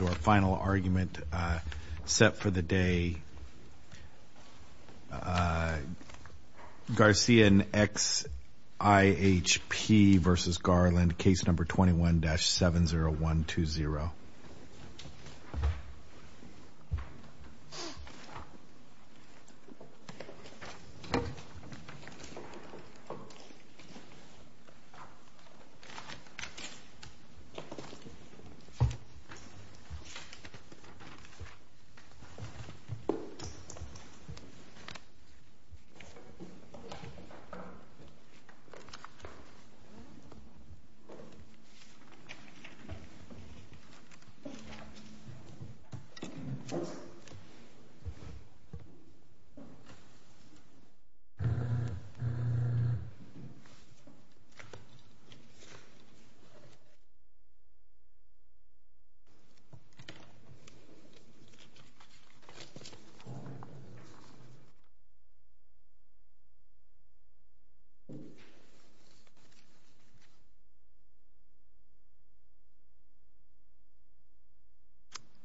Our final argument set for the day Garcia and XIHP versus Garland case number 21-70120 Garcia and XIHP versus Garland case number 21-70120 Garcia and XIHP versus Garland case number 21-70120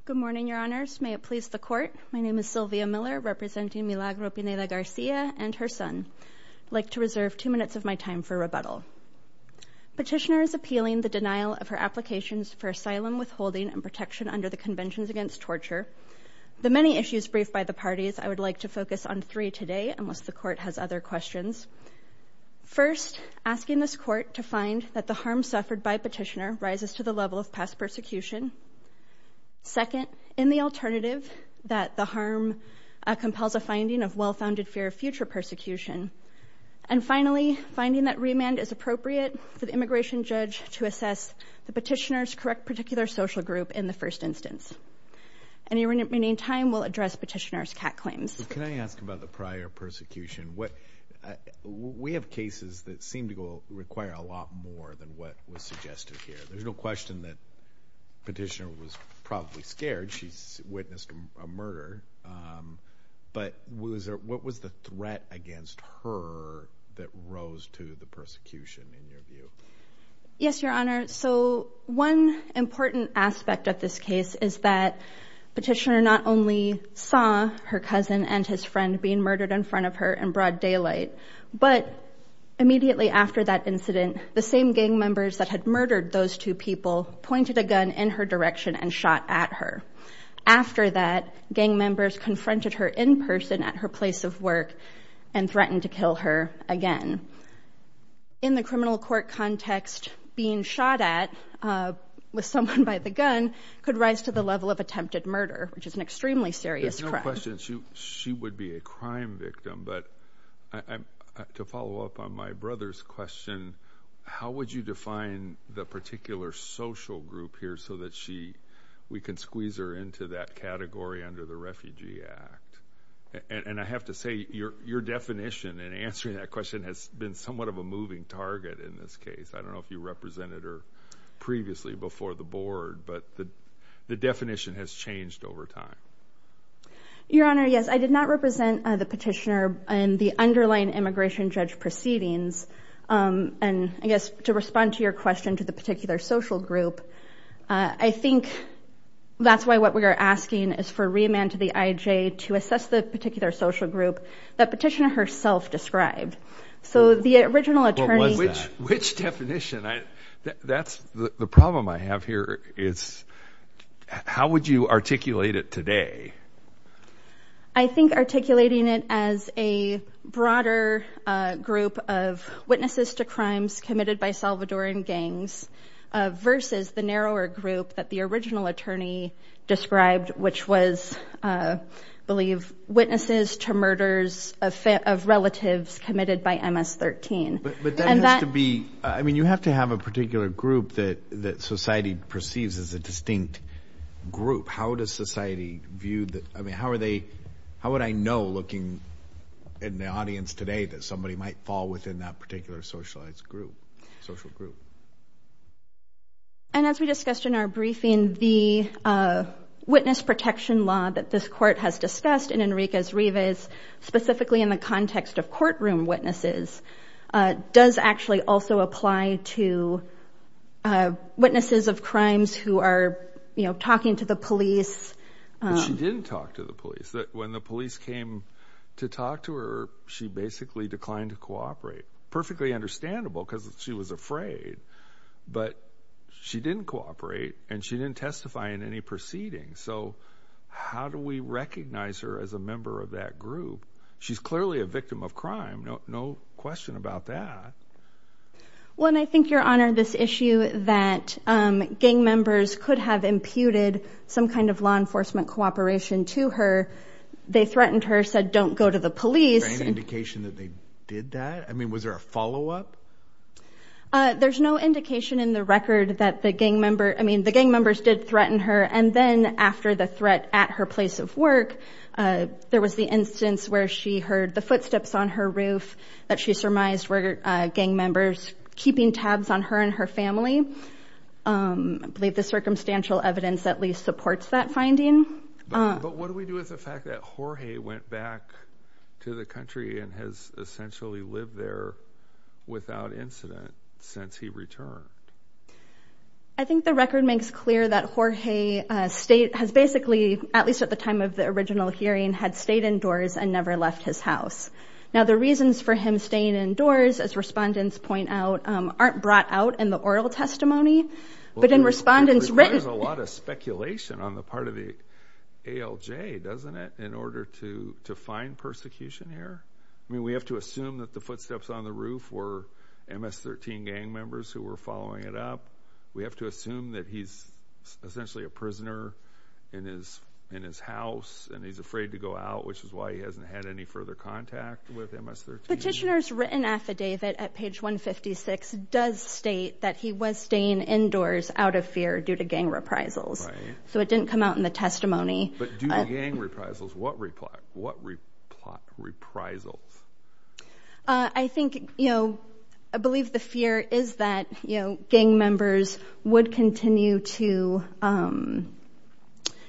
Good morning your honors! May it please the court my name is Sylvia Miller representing Milagro Pineda Garcia and her son. Like to reserve 2 minutes of my time for rebuttal. Petitioner is appealing the denial of her applications for asylum withholding and protection under the Conventions Against Torture. The many issues briefed by the parties I would like to focus on three today unless the court has other questions. First, asking this court to find that the harm suffered by petitioner rises to the level of past persecution. Second, in the alternative that the harm compels a finding of well-founded fear of future persecution. And finally, finding that remand is appropriate for the petitioner's correct particular social group in the first instance. Any remaining time will address petitioner's cat claims. Can I ask about the prior persecution? What we have cases that seem to go require a lot more than what was suggested here. There's no question that petitioner was probably scared. She witnessed a murder but was there what was the threat against her that rose to the persecution in your view? Yes, your honor. So one important aspect of this case is that petitioner not only saw her cousin and his friend being murdered in front of her in broad daylight, but immediately after that incident the same gang members that had murdered those two people pointed a gun in her direction and shot at her. After that, gang members confronted her in person at her place of again. In the criminal court context, being shot at with someone by the gun could rise to the level of attempted murder, which is an extremely serious crime. She would be a crime victim, but to follow up on my brother's question, how would you define the particular social group here so that she we can squeeze her into that category under the Refugee Act? And I have to say your definition and answering that question has been somewhat of a moving target in this case. I don't know if you represented her previously before the board, but the definition has changed over time. Your honor, yes, I did not represent the petitioner and the underlying immigration judge proceedings. Um, and I guess to respond to your question to the particular social group, I think that's why what we're asking is for remand to the I. J. To assess the petitioner herself described. So the original attorney, which definition? That's the problem I have here is how would you articulate it today? I think articulating it as a broader group of witnesses to crimes committed by Salvadoran gangs versus the narrower group that the original attorney described, which was, uh, believe witnesses to murders of relatives committed by MS 13. But that has to be. I mean, you have to have a particular group that that society perceives as a distinct group. How does society view that? I mean, how are they? How would I know, looking in the audience today that somebody might fall within that particular socialized group social group? And as we discussed in our briefing, the, uh, witness protection law that this court has discussed in Enrique's Rivas, specifically in the context of courtroom witnesses, does actually also apply to, uh, witnesses of crimes who are talking to the police. She didn't talk to the police that when the police came to talk to her, she basically declined to cooperate. Perfectly afraid. But she didn't cooperate, and she didn't testify in any proceedings. So how do we recognize her as a member of that group? She's clearly a victim of crime. No question about that. When I think your honor this issue that gang members could have imputed some kind of law enforcement cooperation to her. They threatened her, said, Don't go to the police indication that they did that. I mean, was there a follow up? Uh, there's no indication in the record that the gang member I mean, the gang members did threaten her. And then after the threat at her place of work, there was the instance where she heard the footsteps on her roof that she surmised were gang members keeping tabs on her and her family. Um, I believe the circumstantial evidence at least supports that finding. But what do we do with the fact that Jorge went back to the country and has essentially lived there without incident since he returned? I think the record makes clear that Jorge state has basically, at least at the time of the original hearing, had stayed indoors and never left his house. Now, the reasons for him staying indoors, as respondents point out, aren't brought out in the oral testimony, but in respondents written a lot of speculation on the part of the A. L. J. Doesn't it in order to to footsteps on the roof or M. S. 13 gang members who were following it up? We have to assume that he's essentially a prisoner in his in his house, and he's afraid to go out, which is why he hasn't had any further contact with M. S. 13 petitioners written affidavit at page 1 56 does state that he was staying indoors out of fear due to gang reprisals. So it didn't come out in the testimony. But gang reprisals. What reply? What reply? Reprisals? I think, you know, I believe the fear is that, you know, gang members would continue to, um,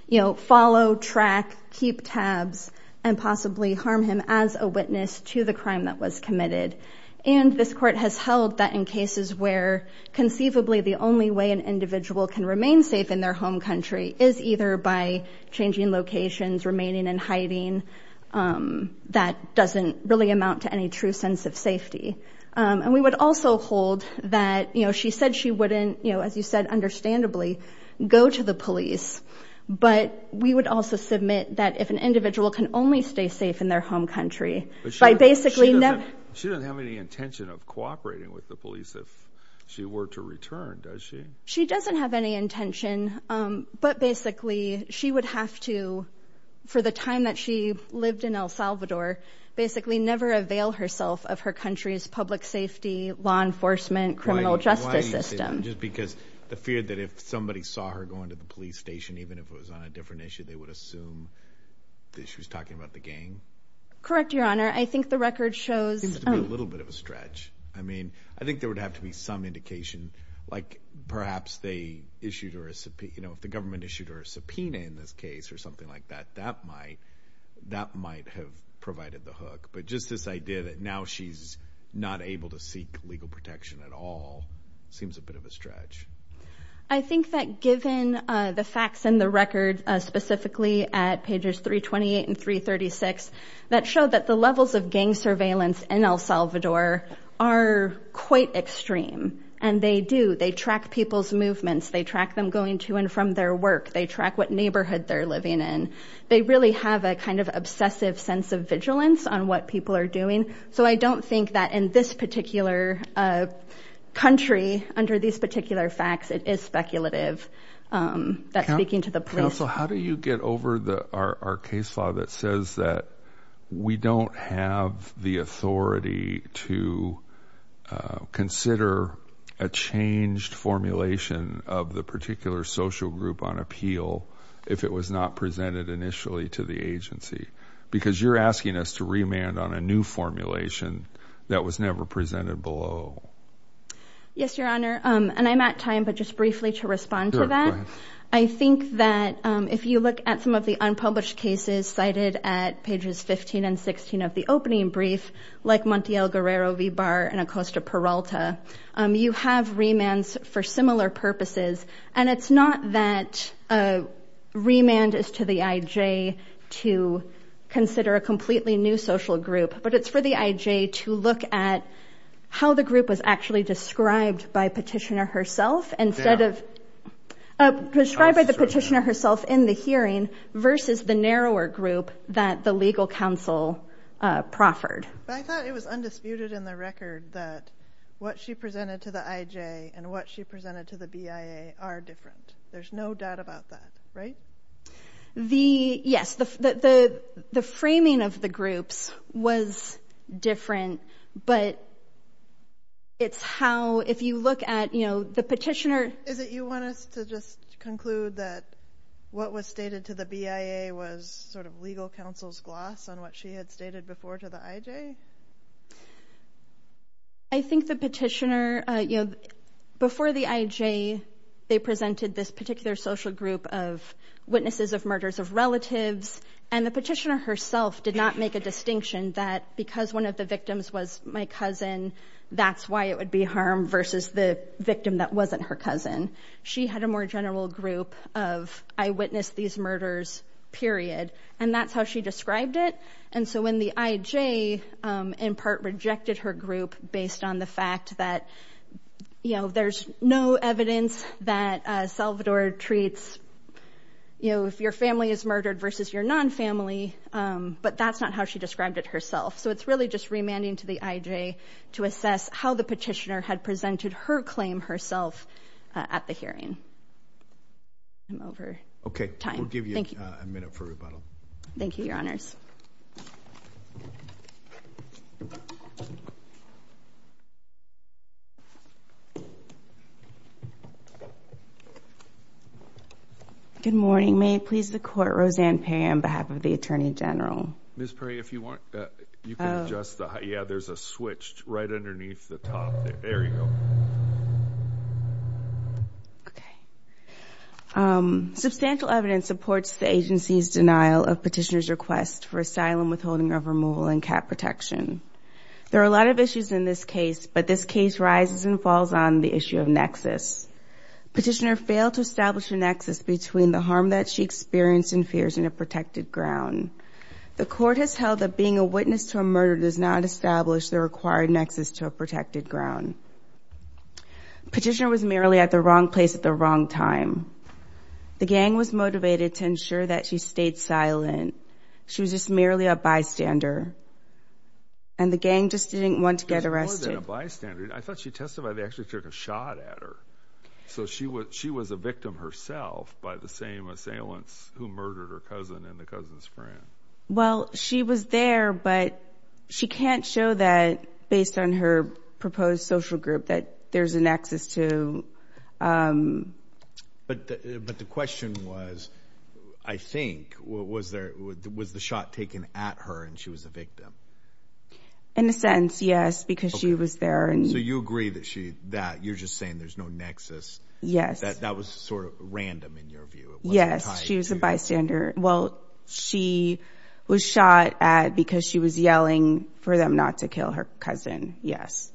you know, follow track, keep tabs and possibly harm him as a witness to the crime that was committed. And this court has held that in cases where conceivably the only way an individual can remain safe in their home country is either by changing locations remaining in hiding. Um, that doesn't really amount to any true sense of safety. Um, and we would also hold that, you know, she said she wouldn't, you know, as you said, understandably, go to the police. But we would also submit that if an individual can only stay safe in their home country by basically never, she doesn't have any intention of cooperating with the police. If she were to return, does she? She doesn't have any intention. But basically, she would have to, for the time that she lived in El Salvador, basically never avail herself of her country's public safety, law enforcement, criminal justice system. Just because the fear that if somebody saw her going to the police station, even if it was on a different issue, they would assume that she was talking about the gang. Correct, Your Honor. I think the record shows a little bit of a stretch. I mean, I think there would have to be some indication, like perhaps they issued or a, you know, if the government issued or a subpoena in this case or something like that, that might, that might have provided the hook. But just this idea that now she's not able to seek legal protection at all, seems a bit of a stretch. I think that given the facts in the record, specifically at pages 328 and 336, that show that the levels of gang surveillance in El Salvador are quite extreme. And they do. They track people's movements. They track them going to and from their work. They track what neighborhood they're living in. They really have a kind of obsessive sense of vigilance on what people are doing. So I don't think that in this particular, uh, country under these particular facts, it is speculative. Um, that's speaking to the police. How do you get over the, our case law that says that we don't have the authority to, uh, consider a if it was not presented initially to the agency, because you're asking us to remand on a new formulation that was never presented below. Yes, Your Honor. Um, and I'm at time, but just briefly to respond to that. I think that, um, if you look at some of the unpublished cases cited at pages 15 and 16 of the opening brief, like Montiel Guerrero V. Barr and Acosta Peralta, um, you have for similar purposes. And it's not that, uh, remand is to the IJ to consider a completely new social group, but it's for the IJ to look at how the group was actually described by petitioner herself instead of, uh, prescribed by the petitioner herself in the hearing versus the narrower group that the legal counsel, uh, proffered. But I thought it was undisputed in the record that what she presented to the IJ and what she presented to the BIA are different. There's no doubt about that, right? The yes, the framing of the groups was different, but it's how if you look at, you know, the petitioner, is it you want us to just conclude that what was stated to the BIA was sort of legal counsel's gloss on what she had stated before to the IJ? I think the petitioner, uh, you know, before the IJ, they presented this particular social group of witnesses of murders of relatives. And the petitioner herself did not make a distinction that because one of the victims was my cousin, that's why it would be harm versus the victim that wasn't her cousin. She had a more general group of, I witnessed these murders, period. And that's how she described it. And so when the IJ, um, in part rejected her group based on the fact that, you know, there's no evidence that, uh, Salvador treats, you know, if your family is murdered versus your non family. Um, but that's not how she described it herself. So it's really just remanding to the IJ to assess how the petitioner had presented her claim herself at the hearing. I'm over time. We'll give you a minute for rebuttal. Thank you, Your Honors. Good morning. May it please the court, Roseanne Perry on behalf of the Attorney General. Ms. Perry, if you want, you can adjust the, yeah, there's a switch right underneath the top there. There you go. Okay. Um, substantial evidence supports the agency's denial of petitioner's request for asylum, withholding of removal and cap protection. There are a lot of issues in this case, but this case rises and falls on the issue of nexus. Petitioner failed to establish a nexus between the harm that she experienced and fears in a protected ground. The court has held that being a witness to a murder does not establish the required nexus to a protected ground. Petitioner was merely at the wrong place at the wrong time. The gang was motivated to ensure that she stayed silent. She was just merely a bystander, and the gang just didn't want to get arrested. More than a bystander. I thought she testified they actually took a shot at her. So she was a victim herself by the same assailants who murdered her cousin and the cousin's friend. Well, she was there, but she can't show that based on her proposed social group that there's a nexus to, um, but but the question was, I think, was there was the shot taken at her and she was a victim in a sentence? Yes, because she was there. And so you agree that she that you're just saying there's no nexus. Yes, that that was sort of random in your view. Yes, she was a bystander. Well, she was shot at because she was yelling for them not to kill her cousin. Yes.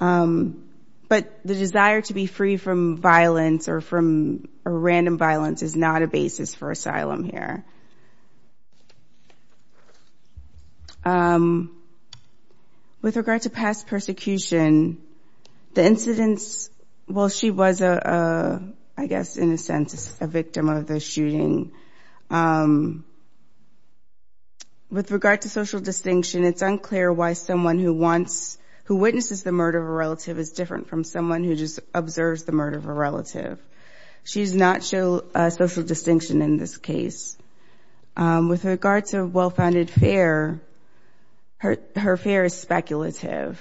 Um, but the desire to be free from violence or from a random violence is not a basis for asylum here. Um, with regard to past persecution, the incidents, well, she was, uh, I guess, in a sense, a someone who wants who witnesses the murder of a relative is different from someone who just observes the murder of a relative. She's not show a social distinction in this case. Um, with regard to well founded fair, her fair is speculative.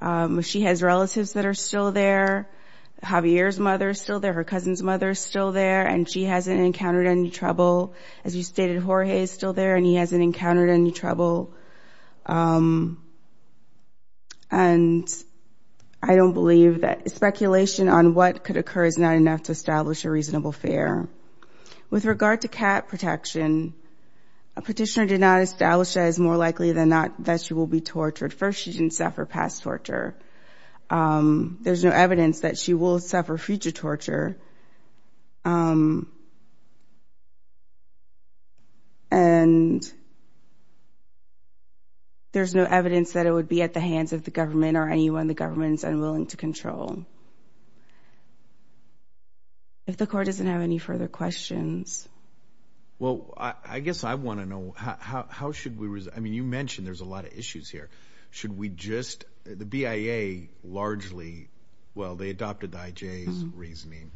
Um, she has relatives that are still there. Javier's mother is still there. Her cousin's mother is still there, and she hasn't encountered any trouble. As you stated, Jorge is still there, and he hasn't encountered any trouble. Um, and I don't believe that speculation on what could occur is not enough to establish a reasonable fair. With regard to cat protection, a petitioner did not establish that is more likely than not that she will be tortured. First, she didn't suffer past torture. Um, there's no evidence that she will suffer future torture. Um, and there's no evidence that it would be at the hands of the government or anyone the government's unwilling to control. If the court doesn't have any further questions. Well, I guess I want to know how should we? I mean, you mentioned there's a lot of issues here. Should we just the B. I. A. Largely? Well, they adopted the I. J. Reasoning,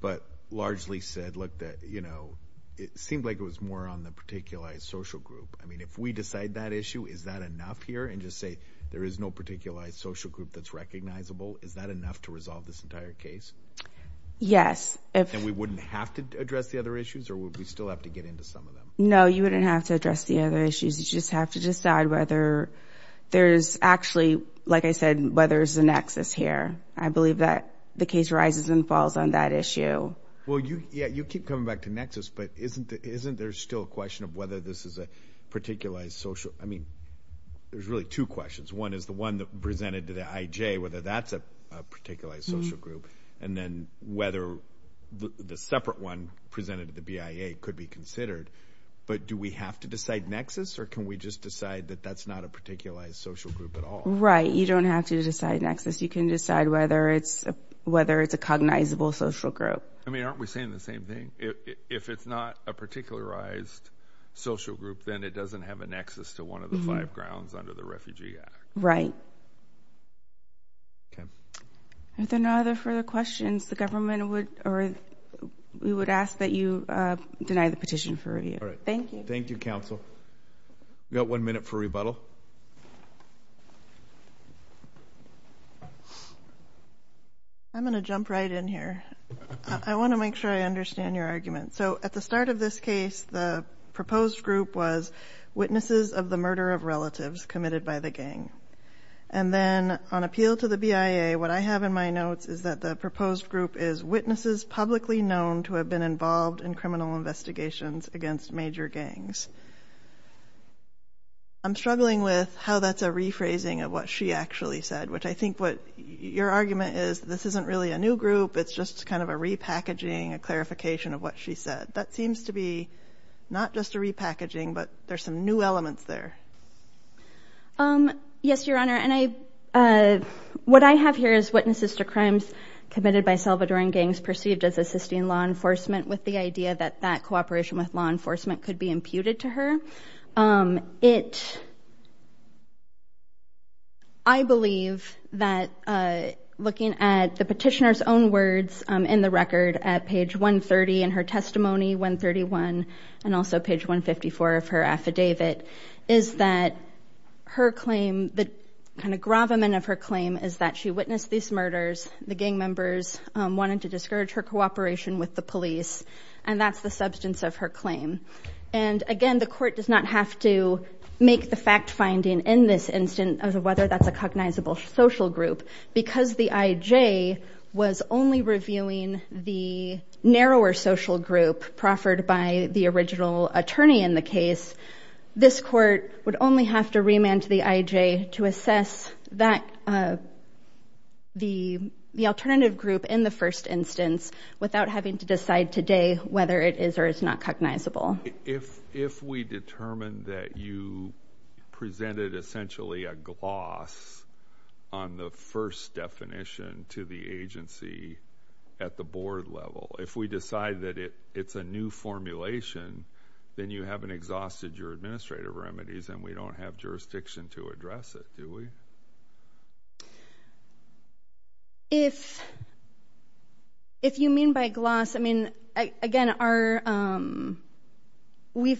but largely said, Look, you know, it seemed like it was more on the particular social group. I mean, if we decide that issue, is that enough here and just say there is no particular social group that's recognizable? Is that enough to resolve this entire case? Yes. And we wouldn't have to address the other issues, or would we still have to get into some of them? No, you wouldn't have to address the other issues. You just have to decide whether there is actually, like I said, whether is the nexus here. I believe that the case rises and falls on that issue. Well, you Yeah, you keep coming back to nexus. But isn't isn't there still a question of whether this is a particular social? I mean, there's really two questions. One is the one that presented to the I. J. Whether that's a particular social group and then whether the separate one presented to the B. I. A. Could be considered. But do we have to decide nexus? Or can we just decide that that's not a particularized social group at all? Right? You don't have to decide nexus. You can decide whether it's whether it's a cognizable social group. I mean, aren't we saying the same thing? If it's not a particularized social group, then it doesn't have a nexus to one of the five grounds under the Refugee Act, right? Okay, there are no other further questions the government would or we would ask that you deny the petition for review. Thank you. Thank you, Council. Got one minute for rebuttal. I'm gonna jump right in here. I want to make sure I understand your argument. So at the start of this case, the proposed group was witnesses of the murder of relatives committed by the gang. And then on appeal to the B. I. A. What I have in my notes is that the proposed group is witnesses publicly known to have been involved in criminal investigations against major gangs. I'm struggling with how that's a rephrasing of what she actually said, which I think what your argument is, this isn't really a new group. It's just kind of a repackaging, a clarification of what she said. That seems to be not just a repackaging, but there's some new elements there. Yes, Your Honor. And I what I have here is witnesses to crimes committed by existing law enforcement with the idea that that cooperation with law enforcement could be imputed to her. I believe that looking at the petitioner's own words in the record at page 130 in her testimony, 131, and also page 154 of her affidavit is that her claim, the kind of gravamen of her claim is that she witnessed these murders. The gang members wanted to discourage her cooperation with the police, and that's the substance of her claim. And again, the court does not have to make the fact finding in this instance of whether that's a cognizable social group, because the I. J. Was only reviewing the narrower social group proffered by the original attorney in the case. This court would only have to remand to the I. J. To assess that the alternative group in the first instance, without having to decide today whether it is or is not cognizable. If if we determine that you presented essentially a gloss on the first definition to the agency at the board level, if we decide that it's a new formulation, then you haven't exhausted your administrative remedies, and we don't have jurisdiction to address it, do we? If if you mean by gloss, I mean, again, are we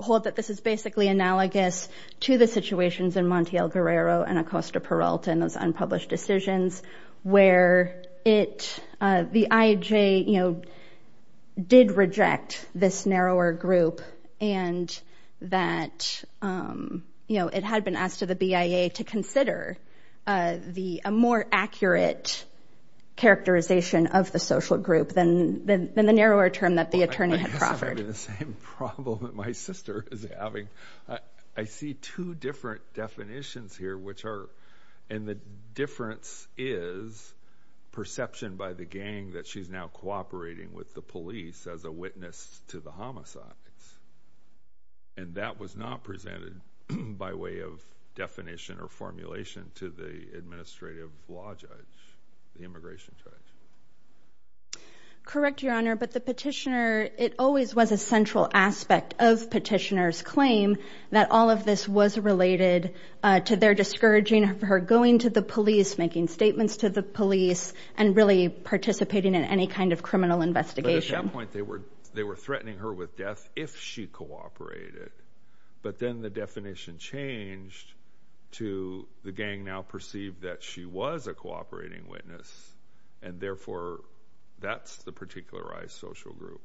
hold that this is basically analogous to the situations in Monte El Guerrero and Acosta Peralta and those unpublished decisions where it the I. J. You know, did reject this narrower group and that, um, you know, it had been asked to the B. I. A. To consider the more accurate characterization of the social group than the narrower term that the attorney had proffered. The same problem that my sister is having. I see two different definitions here, which are and the difference is perception by the gang that she's now cooperating with the police as a witness to the homicides. And that was not presented by way of definition or formulation to the administrative law judge, the immigration judge. Correct, Your Honor. But the petitioner, it always was a central aspect of petitioners claim that all of this was related to their discouraging her going to the police, making statements to the police and really participating in any kind of criminal investigation. They were. They were threatening her with if she cooperated. But then the definition changed to the gang now perceived that she was a cooperating witness, and therefore that's the particularized social group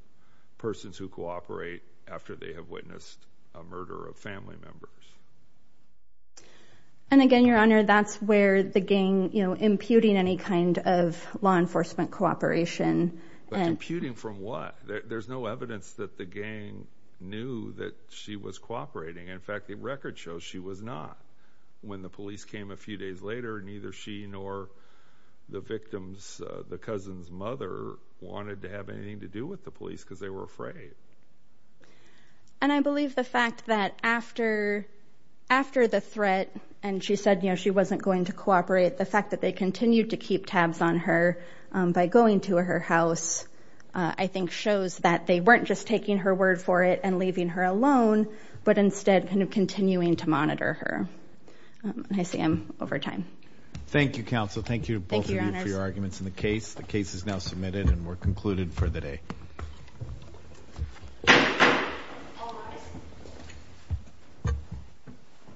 persons who cooperate after they have witnessed a murder of family members. And again, Your Honor, that's where the gang, you know, imputing any kind of law enforcement cooperation and imputing from what? There's no evidence that the gang knew that she was cooperating. In fact, the record shows she was not when the police came a few days later. Neither she nor the victims. The cousin's mother wanted to have anything to do with the police because they were afraid. And I believe the fact that after after the threat and she said, you know, she wasn't going to cooperate. The fact that they continued to keep tabs on her by shows that they weren't just taking her word for it and leaving her alone, but instead kind of continuing to monitor her. I see him over time. Thank you, Council. Thank you. Thank you for your arguments in the case. The case is now submitted, and we're concluded for the day.